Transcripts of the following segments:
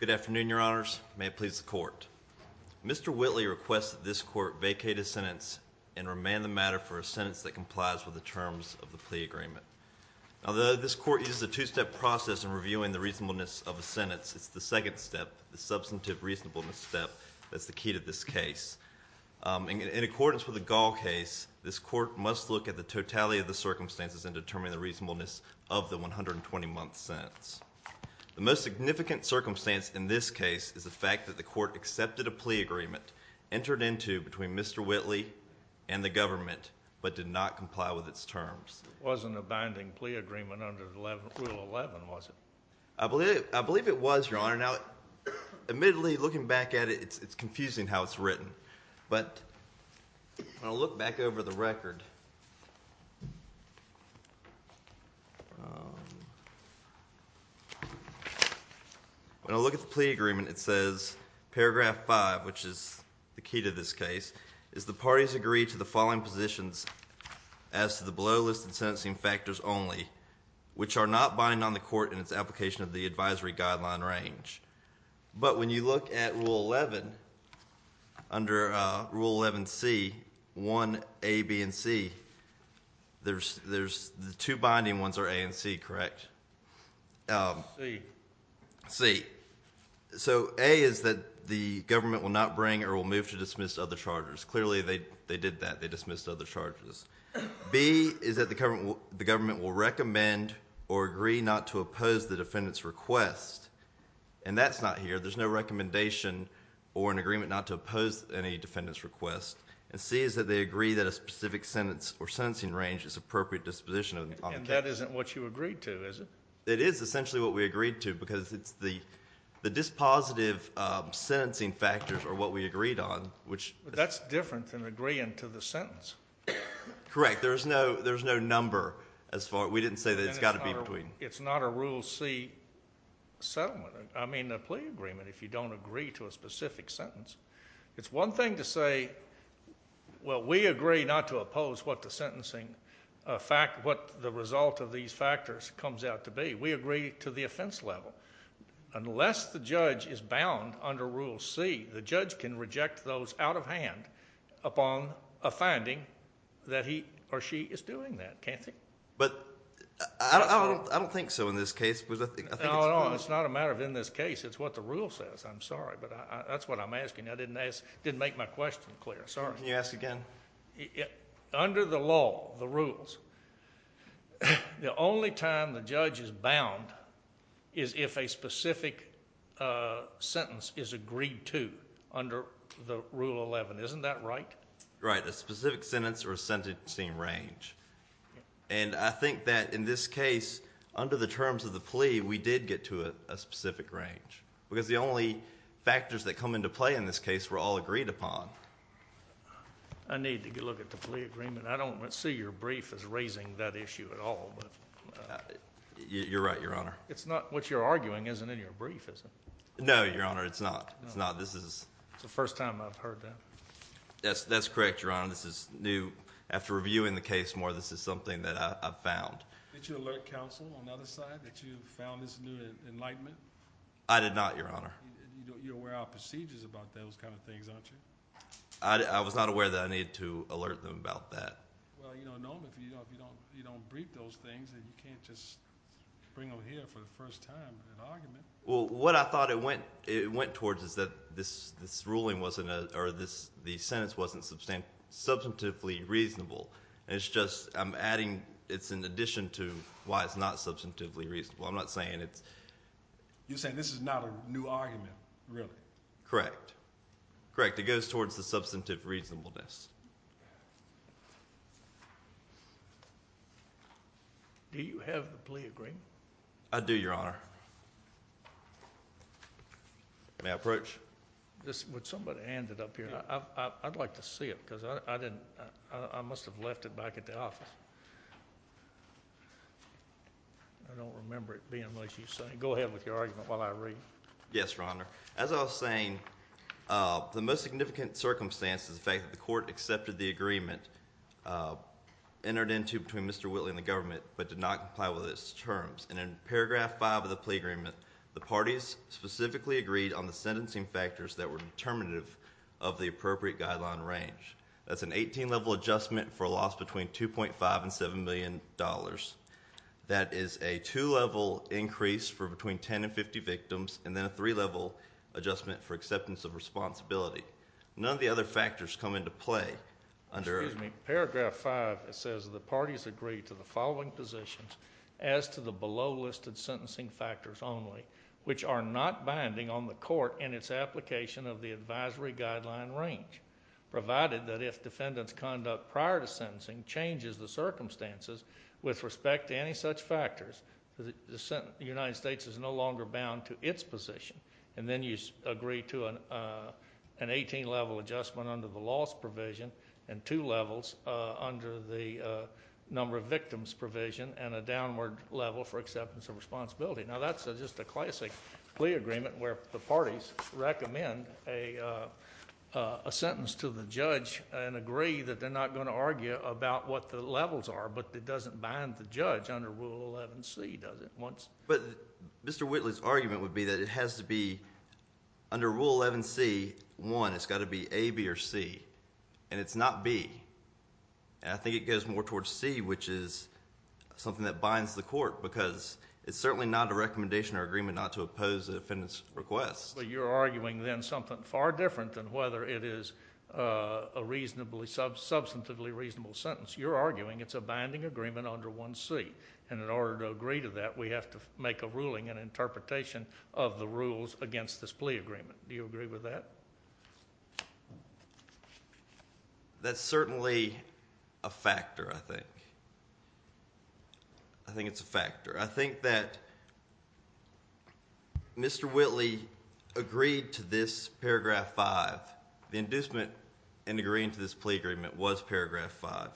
Good afternoon, your honors. May it please the court. Mr. Whitley requests that this court vacate a sentence and remand the matter for a sentence that complies with the terms of the plea agreement. Although this court uses a two-step process in reviewing the reasonableness of a sentence, it's the second step, the substantive reasonableness step, that's the key to this case, this court must look at the totality of the circumstances and determine the reasonableness of the 120-month sentence. The most significant circumstance in this case is the fact that the court accepted a plea agreement, entered into between Mr. Whitley and the government, but did not comply with its terms. It wasn't a binding plea agreement under Rule 11, was it? I believe it was, your honor. Now, admittedly, looking back at it, it's confusing how it's over the record. When I look at the plea agreement, it says, paragraph 5, which is the key to this case, is the parties agree to the following positions as to the below-listed sentencing factors only, which are not binding on the court in its application of the advisory guideline in range. But when you look at Rule 11, under Rule 11C, 1A, B, and C, the two binding ones are A and C, correct? C. So, A is that the government will not bring or will move to dismiss other charges. Clearly, they did that, they dismissed other charges. B is that the government will not bring or move to dismiss other charges. And that's not here. There's no recommendation or an agreement not to oppose any defendant's request. And C is that they agree that a specific sentence or sentencing range is appropriate disposition on the case. And that isn't what you agreed to, is it? It is essentially what we agreed to because it's the dispositive sentencing factors are what we agreed on, which... That's different than agreeing to the sentence. Correct. There's no number as far... We didn't say that it's got to be between. It's not a Rule C settlement. I mean, a plea agreement if you don't agree to a specific sentence. It's one thing to say, well, we agree not to oppose what the sentencing, what the result of these factors comes out to be. We agree to the offense level. Unless the judge is bound under Rule C, the judge can reject those out of hand upon a finding that he or she is doing that. But I don't think so in this case. It's not a matter of in this case. It's what the rule says. I'm sorry, but that's what I'm asking. I didn't ask, didn't make my question clear. Sorry. Can you ask again? Under the law, the rules, the only time the judge is bound is if a specific sentence is in Rule 11. Isn't that right? Right. A specific sentence or a sentencing range. And I think that in this case, under the terms of the plea, we did get to a specific range. Because the only factors that come into play in this case were all agreed upon. I need to look at the plea agreement. I don't see your brief as raising that issue at all. You're right, Your Honor. It's not what you're arguing isn't in your brief, is it? No, Your Honor, it's not. It's the first time I've heard that. That's correct, Your Honor. This is new. After reviewing the case more, this is something that I've found. Did you alert counsel on the other side that you found this new enlightenment? I did not, Your Honor. You're aware of procedures about those kind of things, aren't you? I was not aware that I needed to alert them about that. Well, you don't know them. If you don't brief those things, then you can't just bring them here for the first time as an argument. Well, what I thought it went towards is that the sentence wasn't substantively reasonable. It's just I'm adding it's in addition to why it's not substantively reasonable. I'm not saying it's... You're saying this is not a new argument, really? Correct. Correct. It goes towards the substantive reasonableness. Do you have the plea agreement? I do, Your Honor. May I approach? Would somebody hand it up here? I'd like to see it because I must have left it back at the office. I don't remember it being what you're saying. Go ahead with your argument while I read. Yes, Your Honor. As I was saying, the most significant circumstance is the fact that the court accepted the agreement entered into between Mr. Whitley and the government, but did not comply with its terms. In paragraph five of the plea agreement, the parties specifically agreed on the sentencing factors that were determinative of the appropriate guideline range. That's an 18-level adjustment for a loss between $2.5 and $7 million. That is a two-level increase for between 10 and 50 percent adjustment for acceptance of responsibility. None of the other factors come into play under it. Excuse me. Paragraph five says the parties agreed to the following positions as to the below listed sentencing factors only, which are not binding on the court in its application of the advisory guideline range, provided that if defendant's conduct prior to sentencing changes the circumstances with respect to any such factors, the United States is no Then you agree to an 18-level adjustment under the loss provision, and two levels under the number of victims provision, and a downward level for acceptance of responsibility. Now, that's just a classic plea agreement where the parties recommend a sentence to the judge and agree that they're not going to argue about what the levels are, but it doesn't bind the judge under Rule 11C, does it? But Mr. Whitley's argument would be that it has to be, under Rule 11C, one, it's got to be A, B, or C, and it's not B. I think it goes more towards C, which is something that binds the court, because it's certainly not a recommendation or agreement not to oppose the defendant's request. But you're arguing then something far different than whether it is a reasonably, substantively reasonable sentence. You're arguing it's a binding agreement under 1C, and in order to agree to that, we have to make a ruling, an interpretation of the rules against this plea agreement. Do you agree with that? That's certainly a factor, I think. I think it's a factor. I think that Mr. Whitley agreed to this paragraph 5. The inducement in agreeing to this plea agreement was paragraph 5,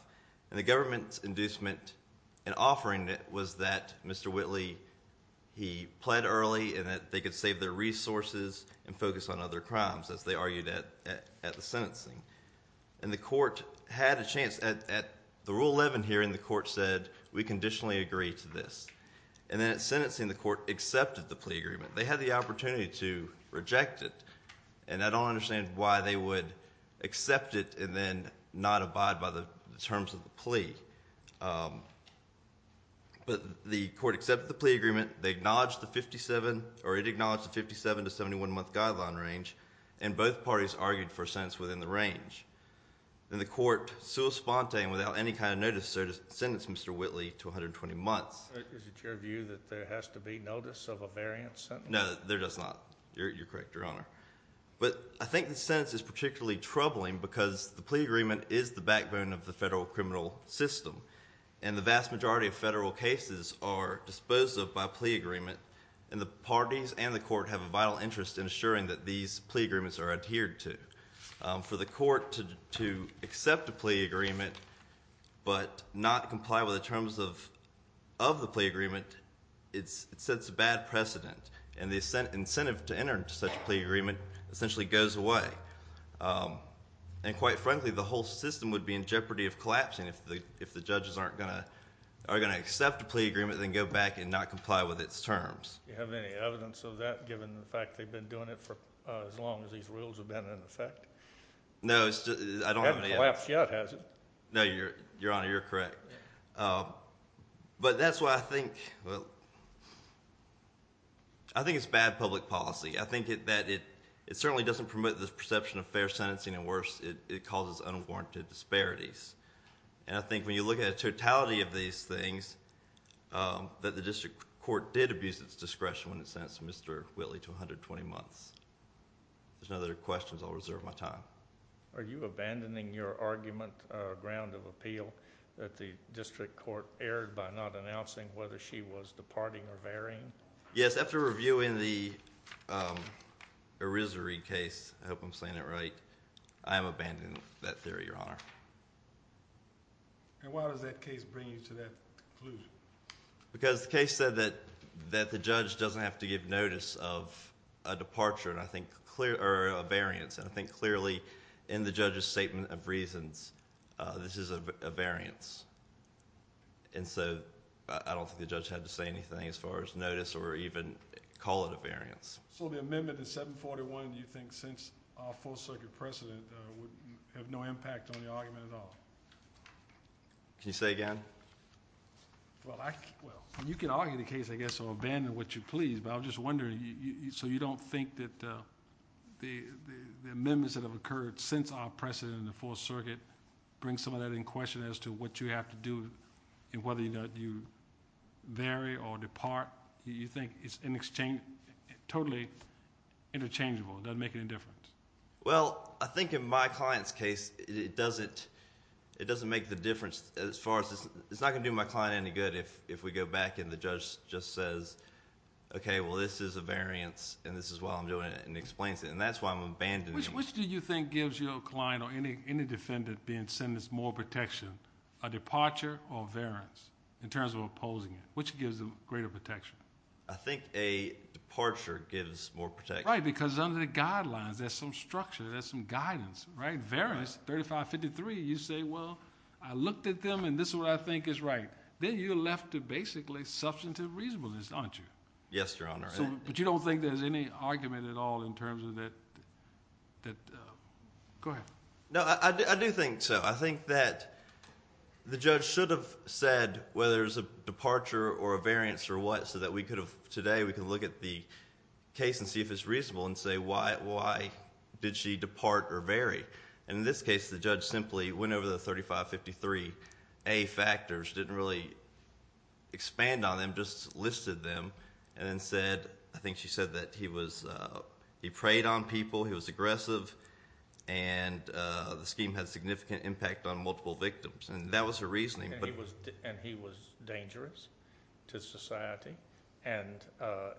and the government's inducement in offering it was that Mr. Whitley, he pled early and that they could save their resources and focus on other crimes, as they argued at the sentencing. And the court had a chance at the Rule 11 hearing, the court said, we conditionally agree to this. And then at sentencing, the court accepted the plea agreement. They had the opportunity to reject it, and I don't understand why they would accept it and then not abide by the terms of the plea. But the court accepted the plea agreement, they acknowledged the 57, or it acknowledged the 57 to 71 month guideline range, and both parties argued for a sentence within the range. And the court, sui sponte and without any kind of notice, sentenced Mr. Whitley to 120 months. Is it your view that there has to be notice of a variant sentence? No, there does not. You're correct, Your Honor. But I think the sentence is particularly troubling because the plea agreement is the backbone of the federal criminal system. And the vast majority of federal cases are disposed of by plea agreement, and the parties and the court have a vital interest in assuring that these plea agreements are adhered to. For the court to accept a plea agreement but not comply with the terms of the plea agreement, it sets a bad precedent. And the incentive to enter into such a plea agreement essentially goes away. And quite frankly, the whole system would be in jeopardy of collapsing if the judges aren't going to accept a plea agreement and then go back and not comply with its terms. Do you have any evidence of that given the fact that they've been doing it for as long as these rules have been in effect? No, I don't have any evidence. It hasn't collapsed yet, has it? No, Your Honor, you're correct. But that's why I think, well, I think it's bad public policy. I think that it certainly doesn't promote the perception of fair sentencing, and worse, it causes unwarranted disparities. And I think when you look at the totality of these things, that the district court did abuse its discretion when it sentenced Mr. Whitley to 120 months. If there's no other questions, I'll reserve my time. Are you abandoning your argument, ground of appeal, that the district court erred by not announcing whether she was departing or varying? Yes, after reviewing the Erisary case, I hope I'm saying that right, I am abandoning that theory, Your Honor. And why does that case bring you to that conclusion? Because the case said that the judge doesn't have to give notice of a departure, or a variance. And I think clearly in the judge's statement of reasons, this is a variance. And so I don't think the judge had to say anything as far as notice, or even call it a variance. So the amendment to 741, do you think, since our 4th Circuit precedent, would have no impact on the argument at all? Can you say again? Well, you can argue the case, I guess, or abandon it, which you please, but I was just wondering, so you don't think that the amendments that have occurred since our precedent in the 4th Circuit bring some of that in question as to what you have to do, and whether you have to vary or depart? Do you think it's totally interchangeable, doesn't make any difference? Well, I think in my client's case, it doesn't make the difference as far as, it's not going to do my client any good if we go back and the judge just says, okay, well this is a variance, and this is why I'm doing it, and explains it. And that's why I'm abandoning it. Which do you think gives your client or any defendant being sentenced more protection, a departure or variance, in terms of opposing it? Which gives them greater protection? I think a departure gives more protection. Right, because under the guidelines, there's some structure, there's some guidance, right? Variance, 3553, you say, well, I looked at them and this is what I think is right. Then you're left to basically substantive reasonableness, aren't you? Yes, Your Honor. But you don't think there's any argument at all in terms of that, that, go ahead. No, I do think so. I think that the judge should have said, whether it was a departure or a variance or what, so that we could have, today, we could look at the case and see if it's reasonable and say, why did she depart or vary? And in this case, the judge simply went over the 3553A factors, didn't really expand on them, just listed them, and then the scheme had significant impact on multiple victims, and that was her reasoning. And he was dangerous to society, and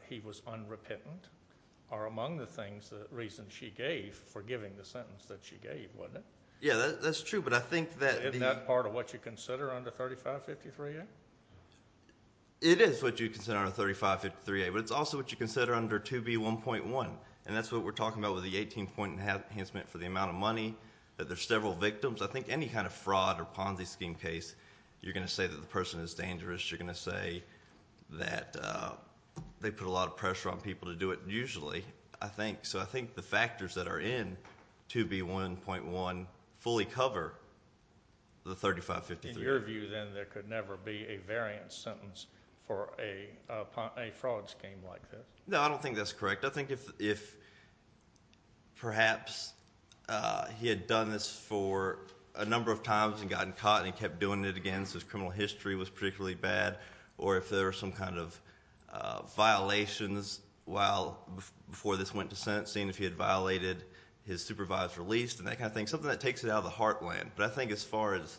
he was unrepentant, are among the things, the reasons she gave for giving the sentence that she gave, wasn't it? Yes, that's true, but I think that the Isn't that part of what you consider under 3553A? It is what you consider under 3553A, but it's also what you consider under 2B1.1, and that's what we're talking about with the 18-point enhancement for the amount of money, that there's several victims. I think any kind of fraud or Ponzi scheme case, you're going to say that the person is dangerous, you're going to say that they put a lot of pressure on people to do it, usually, I think. So I think the factors that are in 2B1.1 fully cover the 3553A. In your view, then, there could never be a variance sentence for a fraud scheme like this? No, I don't think that's correct. I think if perhaps he had done this for a number of times and gotten caught, and he kept doing it again, so his criminal history was particularly bad, or if there were some kind of violations while, before this went to sentencing, if he had violated his supervised release, and that kind of thing, something that takes it out of the heartland. But I think as far as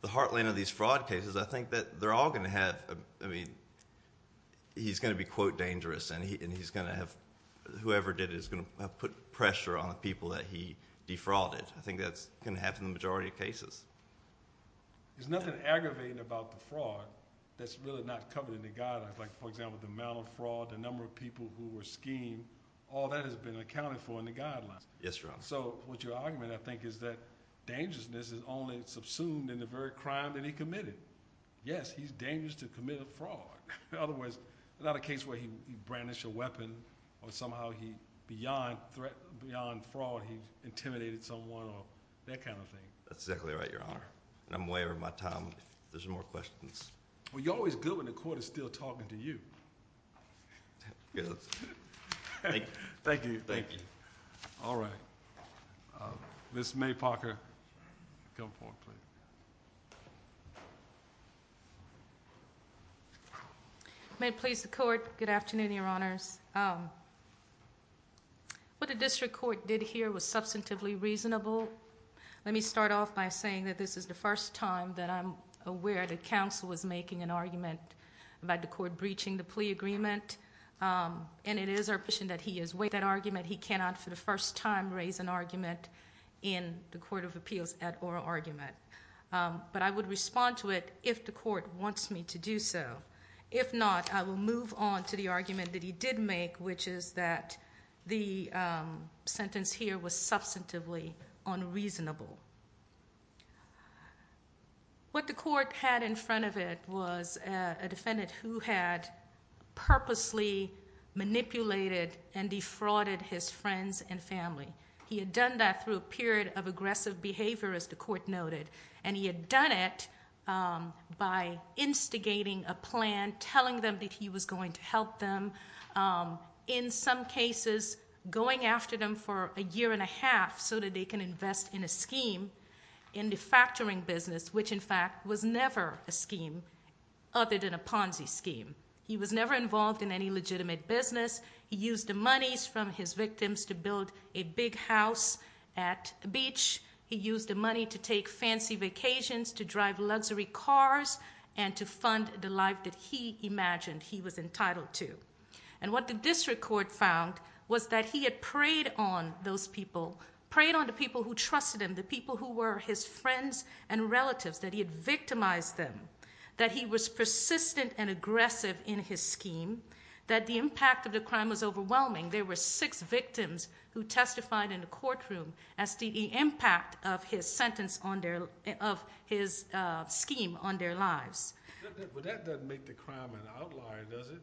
the heartland of these fraud cases, I think that they're all going to have, I mean, he's going to be, quote, dangerous, and he's going to have, whoever did it is going to put pressure on the people that he defrauded. I think that's going to happen in the majority of cases. There's nothing aggravating about the fraud that's really not covered in the guidelines. Like, for example, the amount of fraud, the number of people who were schemed, all that has been accounted for in the guidelines. Yes, Your Honor. So what you're arguing, I think, is that dangerousness is only subsumed in the very Yes, he's dangerous to commit a fraud. Otherwise, not a case where he brandished a weapon, or somehow he, beyond fraud, he intimidated someone, or that kind of thing. That's exactly right, Your Honor. And I'm aware of my time, if there's more questions. Well, you're always good when the court is still talking to you. Thank you. Thank you. All right. Ms. May Parker, come forward, please. May it please the court, good afternoon, Your Honors. What the district court did here was substantively reasonable. Let me start off by saying that this is the first time that I'm aware that counsel was making an argument about the court breaching the plea agreement. And it is our position that he is with that argument. He cannot, for the first time, raise an argument in the Court of Appeals at oral argument. But I would respond to it if the court wants me to do so. If not, I will move on to the argument that he did make, which is that the sentence here was substantively unreasonable. What the court had in front of it was a defendant who had purposely manipulated and defrauded his friends and family. He had done that through a period of aggressive behavior, as the court noted. And he had done it by instigating a plan, telling them that he was going to help them, in some cases, going after them for a year and a half so that they can invest in a scheme in the factoring business, which, in fact, was never a scheme other than a Ponzi scheme. He was never involved in any legitimate business. He used the monies from his victims to build a big house at the beach. He used the money to take fancy vacations, to drive luxury cars, and to fund the life that he imagined he was entitled to. And what the district court found was that he had preyed on those people, preyed on the people who trusted him, the people who were his friends and relatives, that he had victimized them, that he was persistent and aggressive in his scheme, that the impact of the crime was overwhelming. There were six victims who testified in the courtroom as to the impact of his scheme on their lives. But that doesn't make the crime an outlier, does it?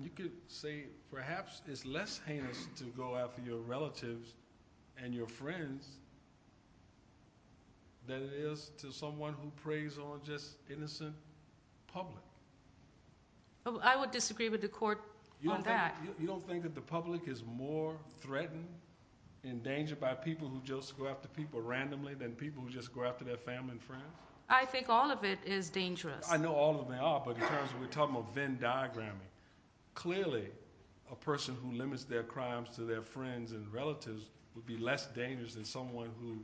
You could say perhaps it's less heinous to go after your relatives and your friends than it is to someone who preys on just innocent public. I would disagree with the court on that. You don't think that the public is more threatened, endangered by people who just go after people randomly than people who just go after their family and friends? I think all of it is dangerous. I know all of them are, but in terms of we're talking about Venn diagramming, clearly a person who limits their crimes to their friends and relatives would be less dangerous than someone who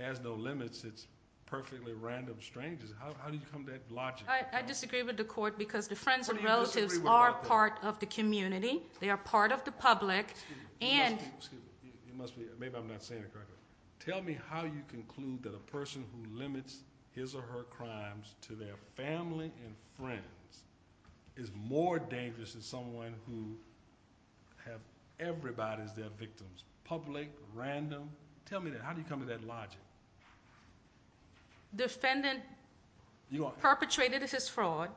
has no limits. It's perfectly random strangers. How do you come to that logic? I disagree with the court because the friends and relatives are part of the community. They are part of the public. Maybe I'm not saying it correctly. Tell me how you conclude that a person who limits his or her crimes to their family and friends is more dangerous than someone who has everybody as their victims, public, random. Tell me that. How do you come to that logic? The defendant perpetrated his fraud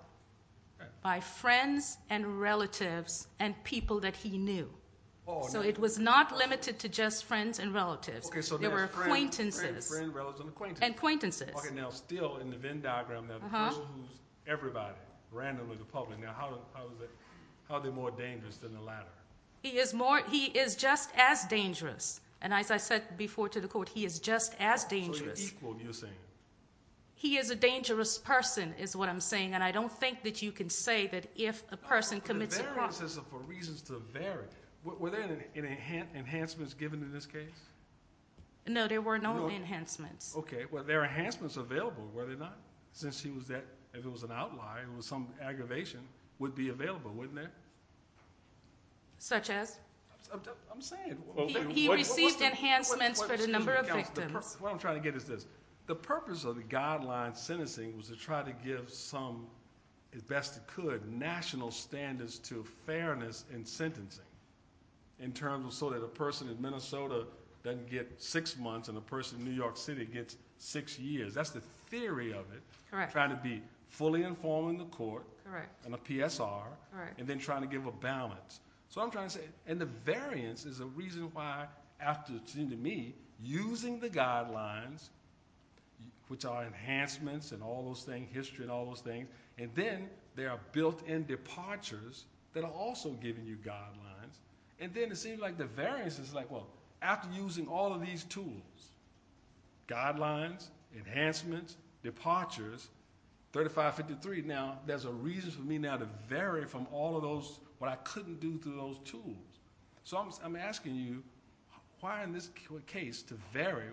by friends and relatives and people that he knew. So it was not limited to just friends and relatives. There were acquaintances and acquaintances. Okay, now still in the Venn diagram, that person who's everybody, randomly, the public. Now how are they more dangerous than the latter? He is just as dangerous. And as I said before to the court, he is just as dangerous. So you're equal, you're saying. He is a dangerous person is what I'm saying, and I don't think that you can say that if a person commits a crime. But the variances are for reasons to vary. Were there any enhancements given in this case? No, there were no enhancements. Okay, well, there are enhancements available, were there not? Since he was that, if it was an outlier, it was some aggravation, would be available, wouldn't it? Such as? I'm saying. He received enhancements for the number of victims. What I'm trying to get at is this. The purpose of the guideline sentencing was to try to give some, as best it could, national standards to fairness in sentencing, in terms of so that a person in Minnesota doesn't get six months and a person in New York City gets six years. That's the theory of it. Correct. Trying to be fully informed in the court. Correct. And a PSR. Correct. And then trying to give a balance. So I'm trying to say. And the variance is a reason why, after, to me, using the guidelines, which are enhancements and all those things, history and all those things, and then there are built-in departures that are also giving you guidelines. And then it seems like the variance is like, well, after using all of these tools, guidelines, enhancements, departures, 3553, now there's a reason for me now to vary from all of those, what I couldn't do through those tools. So I'm asking you, why in this case to vary?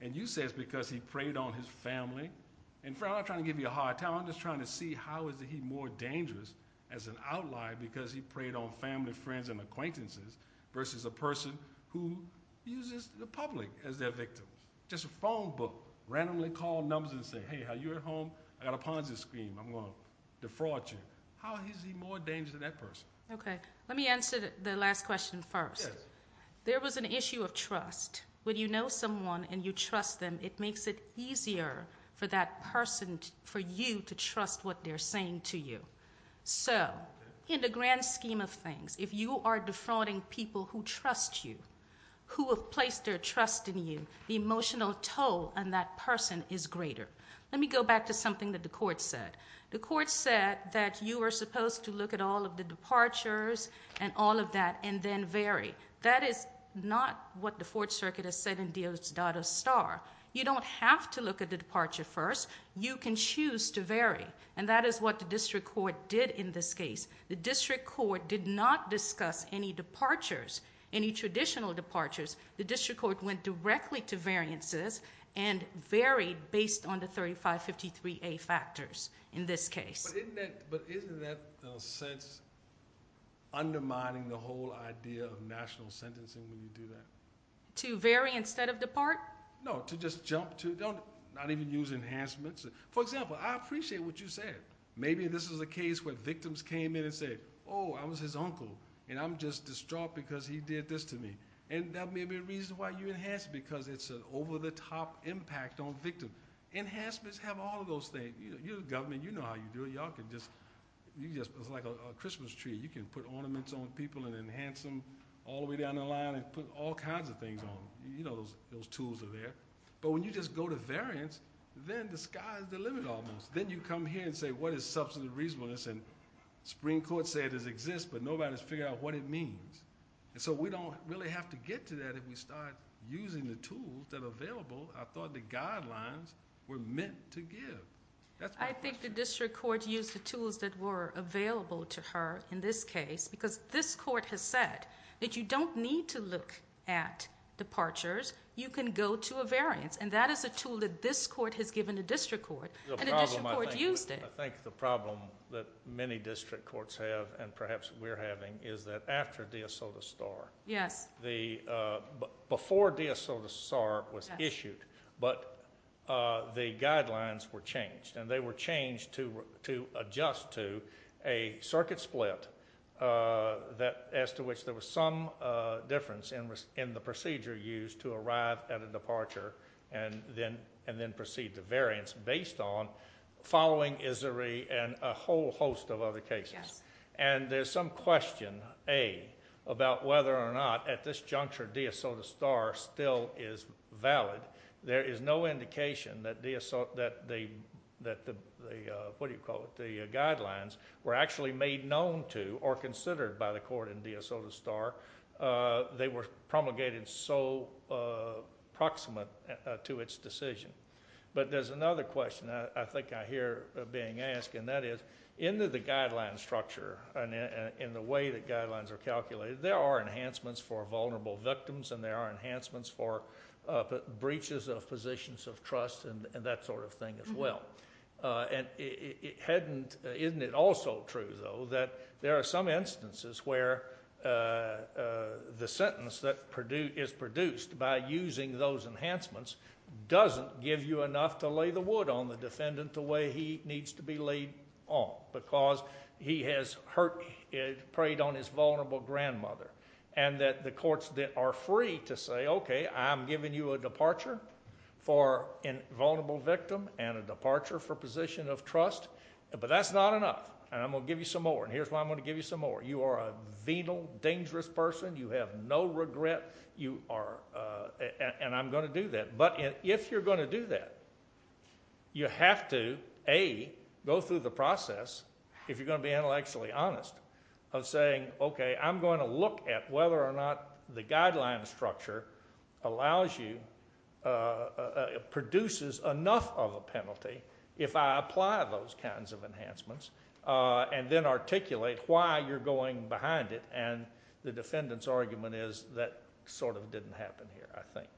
And you say it's because he preyed on his family. And, Fred, I'm not trying to give you a hard time. I'm just trying to see how is he more dangerous as an outlier because he preyed on family, friends, and acquaintances, versus a person who uses the public as their victims. Just a phone book. Randomly call numbers and say, hey, how are you at home? I got a Ponzi scheme. I'm going to defraud you. How is he more dangerous than that person? Okay. Let me answer the last question first. There was an issue of trust. When you know someone and you trust them, it makes it easier for that person, for you, to trust what they're saying to you. So in the grand scheme of things, if you are defrauding people who trust you, who have placed their trust in you, the emotional toll on that person is greater. Let me go back to something that the court said. The court said that you are supposed to look at all of the departures and all of that and then vary. That is not what the Fourth Circuit has said in Dios Dada Star. You don't have to look at the departure first. You can choose to vary. And that is what the district court did in this case. The district court did not discuss any departures, any traditional departures. The district court went directly to variances and varied based on the 3553A factors in this case. But isn't that, in a sense, undermining the whole idea of national sentencing when you do that? To vary instead of depart? No, to just jump to, not even use enhancements. For example, I appreciate what you said. Maybe this is a case where victims came in and said, Oh, I was his uncle, and I'm just distraught because he did this to me. And that may be a reason why you enhance because it's an over-the-top impact on victims. Enhancements have all of those things. You're the government. You know how you do it. It's like a Christmas tree. You can put ornaments on people and enhance them all the way down the line and put all kinds of things on them. You know those tools are there. But when you just go to variance, then the sky's the limit almost. Then you come here and say, What is substantive reasonableness? And the Supreme Court said it exists, but nobody's figured out what it means. So we don't really have to get to that if we start using the tools that are available. I thought the guidelines were meant to give. I think the district court used the tools that were available to her in this case because this court has said that you don't need to look at departures. You can go to a variance. And that is a tool that this court has given the district court, and the district court used it. I think the problem that many district courts have, and perhaps we're having, is that after De Soto Star, before De Soto Star was issued, but the guidelines were changed, and they were changed to adjust to a circuit split as to which there was some difference in the procedure used to arrive at a departure and then proceed to variance based on following Isseri and a whole host of other cases. And there's some question, A, about whether or not at this juncture De Soto Star still is valid. There is no indication that the guidelines were actually made known to or considered by the court in De Soto Star. They were promulgated so proximate to its decision. But there's another question I think I hear being asked, and that is into the guideline structure and in the way that guidelines are calculated, there are enhancements for vulnerable victims, and there are enhancements for breaches of positions of trust and that sort of thing as well. And isn't it also true, though, that there are some instances where the sentence that is produced by using those enhancements doesn't give you enough to lay the wood on the defendant the way he needs to be laid on because he has preyed on his vulnerable grandmother and that the courts are free to say, okay, I'm giving you a departure for a vulnerable victim and a departure for position of trust, but that's not enough, and I'm going to give you some more, and here's why I'm going to give you some more. You are a venal, dangerous person. You have no regret, and I'm going to do that. But if you're going to do that, you have to, A, go through the process, if you're going to be intellectually honest, of saying, okay, I'm going to look at whether or not the guideline structure allows you, produces enough of a penalty if I apply those kinds of enhancements and then articulate why you're going behind it, and the defendant's argument is that sort of didn't happen here, I think.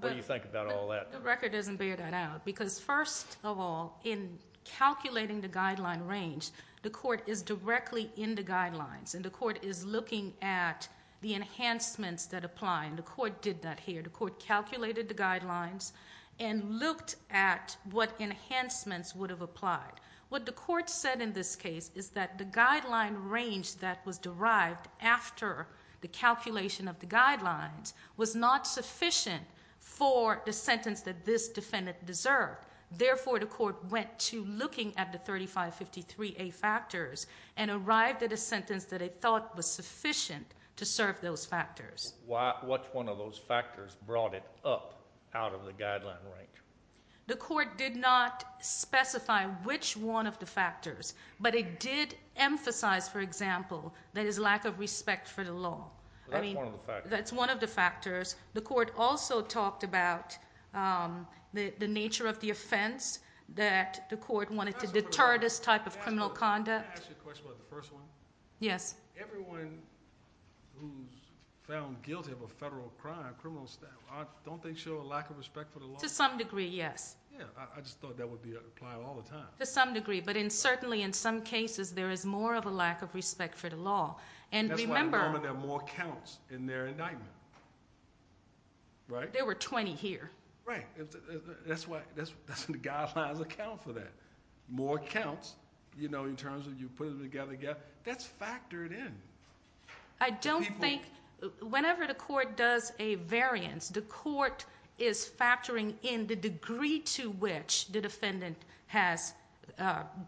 What do you think about all that? The record doesn't bear that out because, first of all, in calculating the guideline range, the court is directly in the guidelines, and the court is looking at the enhancements that apply, and the court did that here. The court calculated the guidelines and looked at what enhancements would have applied. What the court said in this case is that the guideline range that was derived after the calculation of the guidelines was not sufficient for the sentence that this defendant deserved. Therefore, the court went to looking at the 3553A factors and arrived at a sentence that it thought was sufficient to serve those factors. Which one of those factors brought it up out of the guideline range? The court did not specify which one of the factors, but it did emphasize, for example, that it's lack of respect for the law. That's one of the factors. That's one of the factors. The court also talked about the nature of the offense, that the court wanted to deter this type of criminal conduct. Can I ask you a question about the first one? Yes. Everyone who's found guilty of a federal crime, criminals, don't they show a lack of respect for the law? To some degree, yes. Yeah, I just thought that would be applied all the time. To some degree, but certainly in some cases there is more of a lack of respect for the law. That's why at the moment there are more counts in their indictment, right? There were 20 here. Right. That's why the guidelines account for that. More counts, you know, in terms of you put them together. That's factored in. I don't think whenever the court does a variance, the court is factoring in the degree to which the defendant has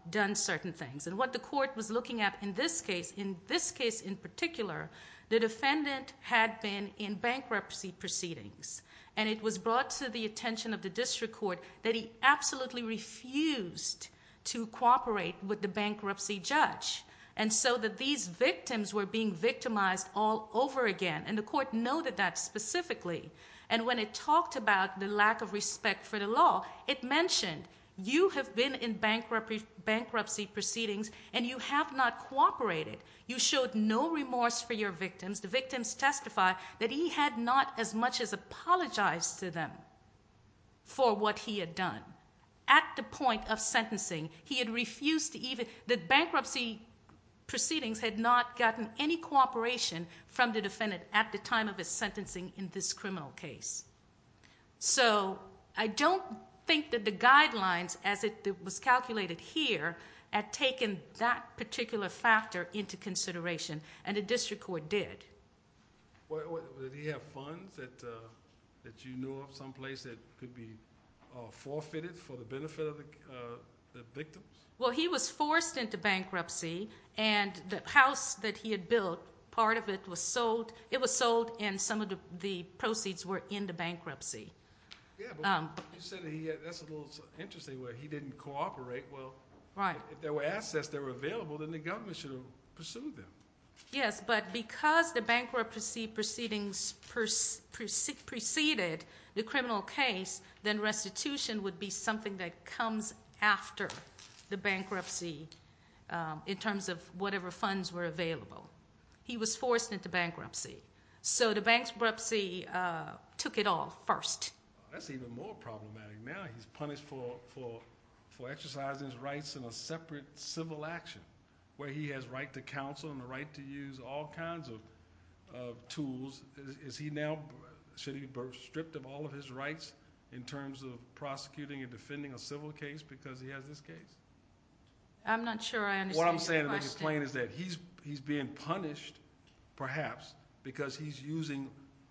done certain things. And what the court was looking at in this case, in this case in particular, the defendant had been in bankruptcy proceedings, and it was brought to the attention of the district court that he absolutely refused to cooperate with the bankruptcy judge. And so that these victims were being victimized all over again, and the court noted that specifically. And when it talked about the lack of respect for the law, it mentioned you have been in bankruptcy proceedings and you have not cooperated. You showed no remorse for your victims. The victims testified that he had not as much as apologized to them for what he had done. At the point of sentencing, he had refused to even, that bankruptcy proceedings had not gotten any cooperation from the defendant at the time of his sentencing in this criminal case. So I don't think that the guidelines, as it was calculated here, had taken that particular factor into consideration, and the district court did. Well, did he have funds that you knew of someplace that could be forfeited for the benefit of the victims? Well, he was forced into bankruptcy, and the house that he had built, part of it was sold, it was sold, and some of the proceeds were in the bankruptcy. Yeah, but you said that's a little interesting where he didn't cooperate. Well, if there were assets that were available, then the government should have pursued them. Yes, but because the bankruptcy proceedings preceded the criminal case, then restitution would be something that comes after the bankruptcy in terms of whatever funds were available. He was forced into bankruptcy. So the bankruptcy took it all first. That's even more problematic now. He's punished for exercising his rights in a separate civil action where he has right to counsel and the right to use all kinds of tools. Is he now stripped of all of his rights in terms of prosecuting and defending a civil case because he has this case? I'm not sure I understand your question. What I'm saying is that he's being punished, perhaps, because he's using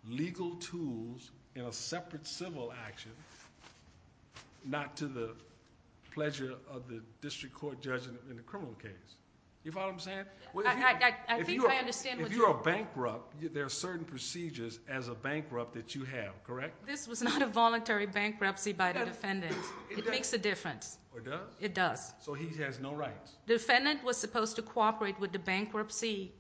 legal tools in a separate civil action, not to the pleasure of the district court judge in the criminal case. You follow what I'm saying? I think I understand what you're saying. If you are bankrupt, there are certain procedures as a bankrupt that you have, correct? This was not a voluntary bankruptcy by the defendant. It makes a difference. It does? It does. So he has no rights. The defendant was supposed to cooperate with the bankruptcy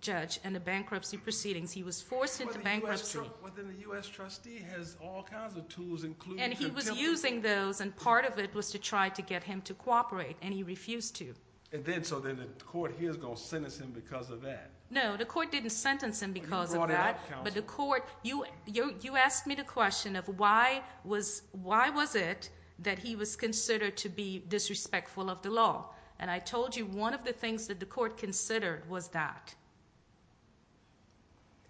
judge and the bankruptcy proceedings. He was forced into bankruptcy. But then the U.S. trustee has all kinds of tools, including contempt of duty. And he was using those, and part of it was to try to get him to cooperate, and he refused to. So then the court here is going to sentence him because of that. No, the court didn't sentence him because of that. You brought it up, counsel. But the court, you asked me the question of why was it that he was considered to be disrespectful of the law, and I told you one of the things that the court considered was that.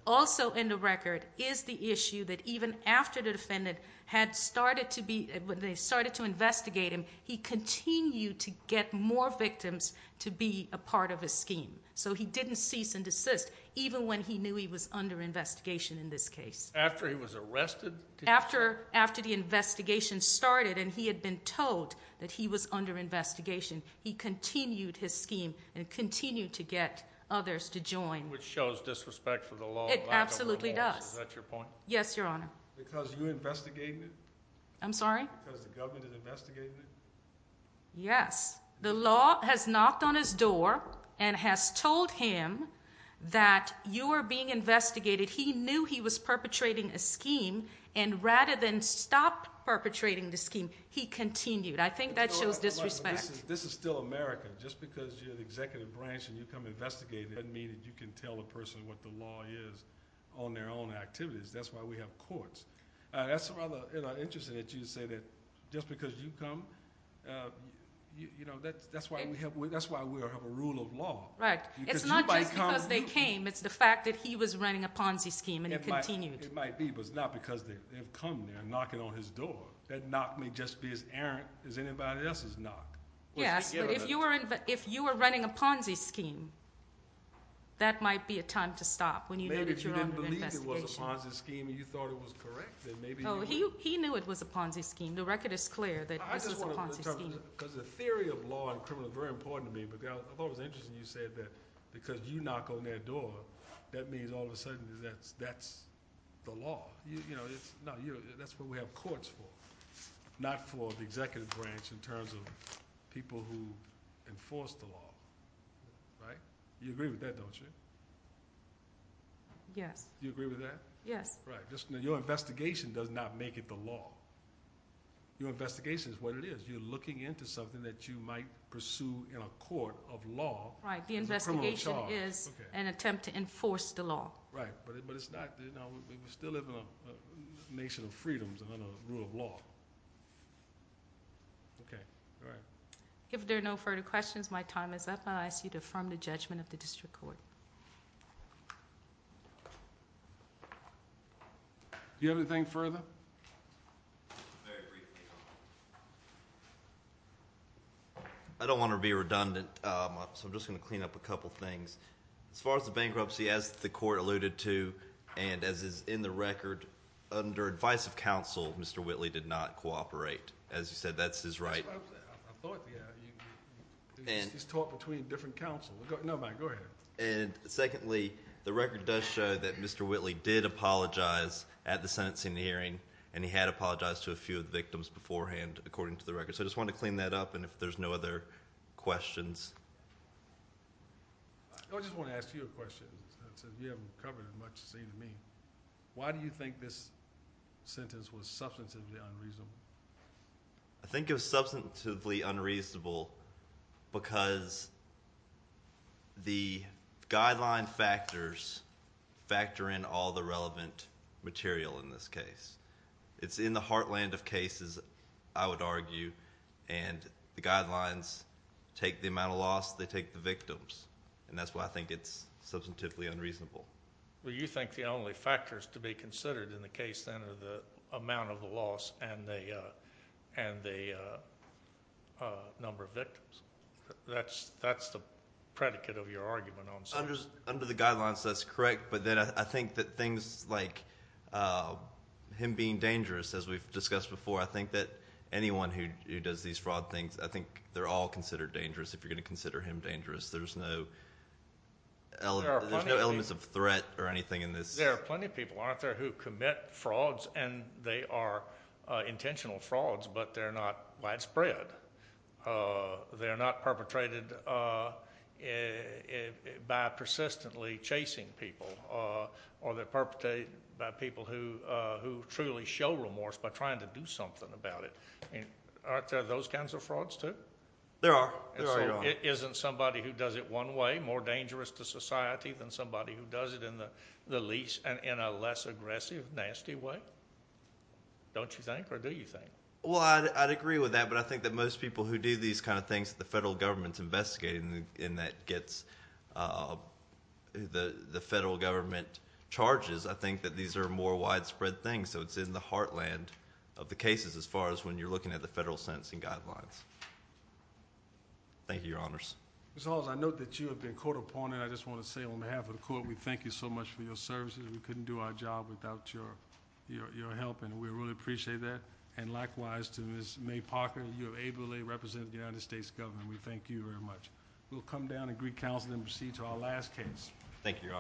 Also in the record is the issue that even after the defendant had started to be, when they started to investigate him, he continued to get more victims to be a part of his scheme. So he didn't cease and desist, even when he knew he was under investigation in this case. After he was arrested? After the investigation started and he had been told that he was under investigation, he continued his scheme and continued to get others to join. Which shows disrespect for the law. It absolutely does. Is that your point? Yes, Your Honor. Because you investigated it? I'm sorry? Because the government investigated it? Yes. The law has knocked on his door and has told him that you are being investigated. He knew he was perpetrating a scheme, and rather than stop perpetrating the scheme, he continued. I think that shows disrespect. This is still America. Just because you're an executive branch and you come investigate it doesn't mean that you can tell a person what the law is on their own activities. That's why we have courts. That's rather interesting that you say that just because you come, that's why we have a rule of law. Right. It's not just because they came. It's the fact that he was running a Ponzi scheme and he continued. It might be, but it's not because they've come there knocking on his door. That knock may just be as errant as anybody else's knock. Yes, but if you were running a Ponzi scheme, that might be a time to stop. Maybe if you didn't believe it was a Ponzi scheme and you thought it was correct. He knew it was a Ponzi scheme. The record is clear that this was a Ponzi scheme. The theory of law and criminal is very important to me, but I thought it was interesting you said that because you knock on their door, that means all of a sudden that's the law. That's what we have courts for, not for the executive branch in terms of people who enforce the law. You agree with that, don't you? Yes. You agree with that? Yes. Your investigation does not make it the law. Your investigation is what it is. You're looking into something that you might pursue in a court of law. The investigation is an attempt to enforce the law. Right, but it's not. We still live in a nation of freedoms and a rule of law. Okay, all right. If there are no further questions, my time is up. I ask you to affirm the judgment of the district court. Do you have anything further? Very briefly. I don't want to be redundant, so I'm just going to clean up a couple things. As far as the bankruptcy, as the court alluded to, and as is in the record, under advice of counsel, Mr. Whitley did not cooperate. As you said, that's his right. I thought he had. He's talked between different counsel. No, go ahead. And secondly, the record does show that Mr. Whitley did apologize at the sentencing hearing, and he had apologized to a few of the victims beforehand, according to the record. So I just wanted to clean that up, and if there's no other questions. I just want to ask you a question. You haven't covered as much as you've seen me. Why do you think this sentence was substantively unreasonable? I think it was substantively unreasonable because the guideline factors factor in all the relevant material in this case. It's in the heartland of cases, I would argue, and the guidelines take the amount of loss, they take the victims, and that's why I think it's substantively unreasonable. Well, you think the only factors to be considered in the case, then, are the amount of the loss and the number of victims. That's the predicate of your argument on sentence. Under the guidelines, that's correct, but then I think that things like him being dangerous, as we've discussed before, I think that anyone who does these fraud things, I think they're all considered dangerous if you're going to consider him dangerous. There's no elements of threat or anything in this. There are plenty of people, aren't there, who commit frauds, and they are intentional frauds, but they're not widespread. They're not perpetrated by persistently chasing people, or they're perpetrated by people who truly show remorse by trying to do something about it. Aren't there those kinds of frauds, too? There are. There are. Isn't somebody who does it one way more dangerous to society than somebody who does it in the least and in a less aggressive, nasty way? Don't you think, or do you think? Well, I'd agree with that, but I think that most people who do these kind of things that the federal government's investigating and that gets the federal government charges, I think that these are more widespread things, so it's in the heartland of the cases as far as when you're looking at the federal sentencing guidelines. Thank you, Your Honors. Ms. Halls, I note that you have been court appointed. I just want to say on behalf of the court, we thank you so much for your services. We couldn't do our job without your help, and we really appreciate that. And likewise to Ms. May Parker, you have ably represented the United States government. We thank you very much. We'll come down and greet counsel and proceed to our last case. Thank you, Your Honor.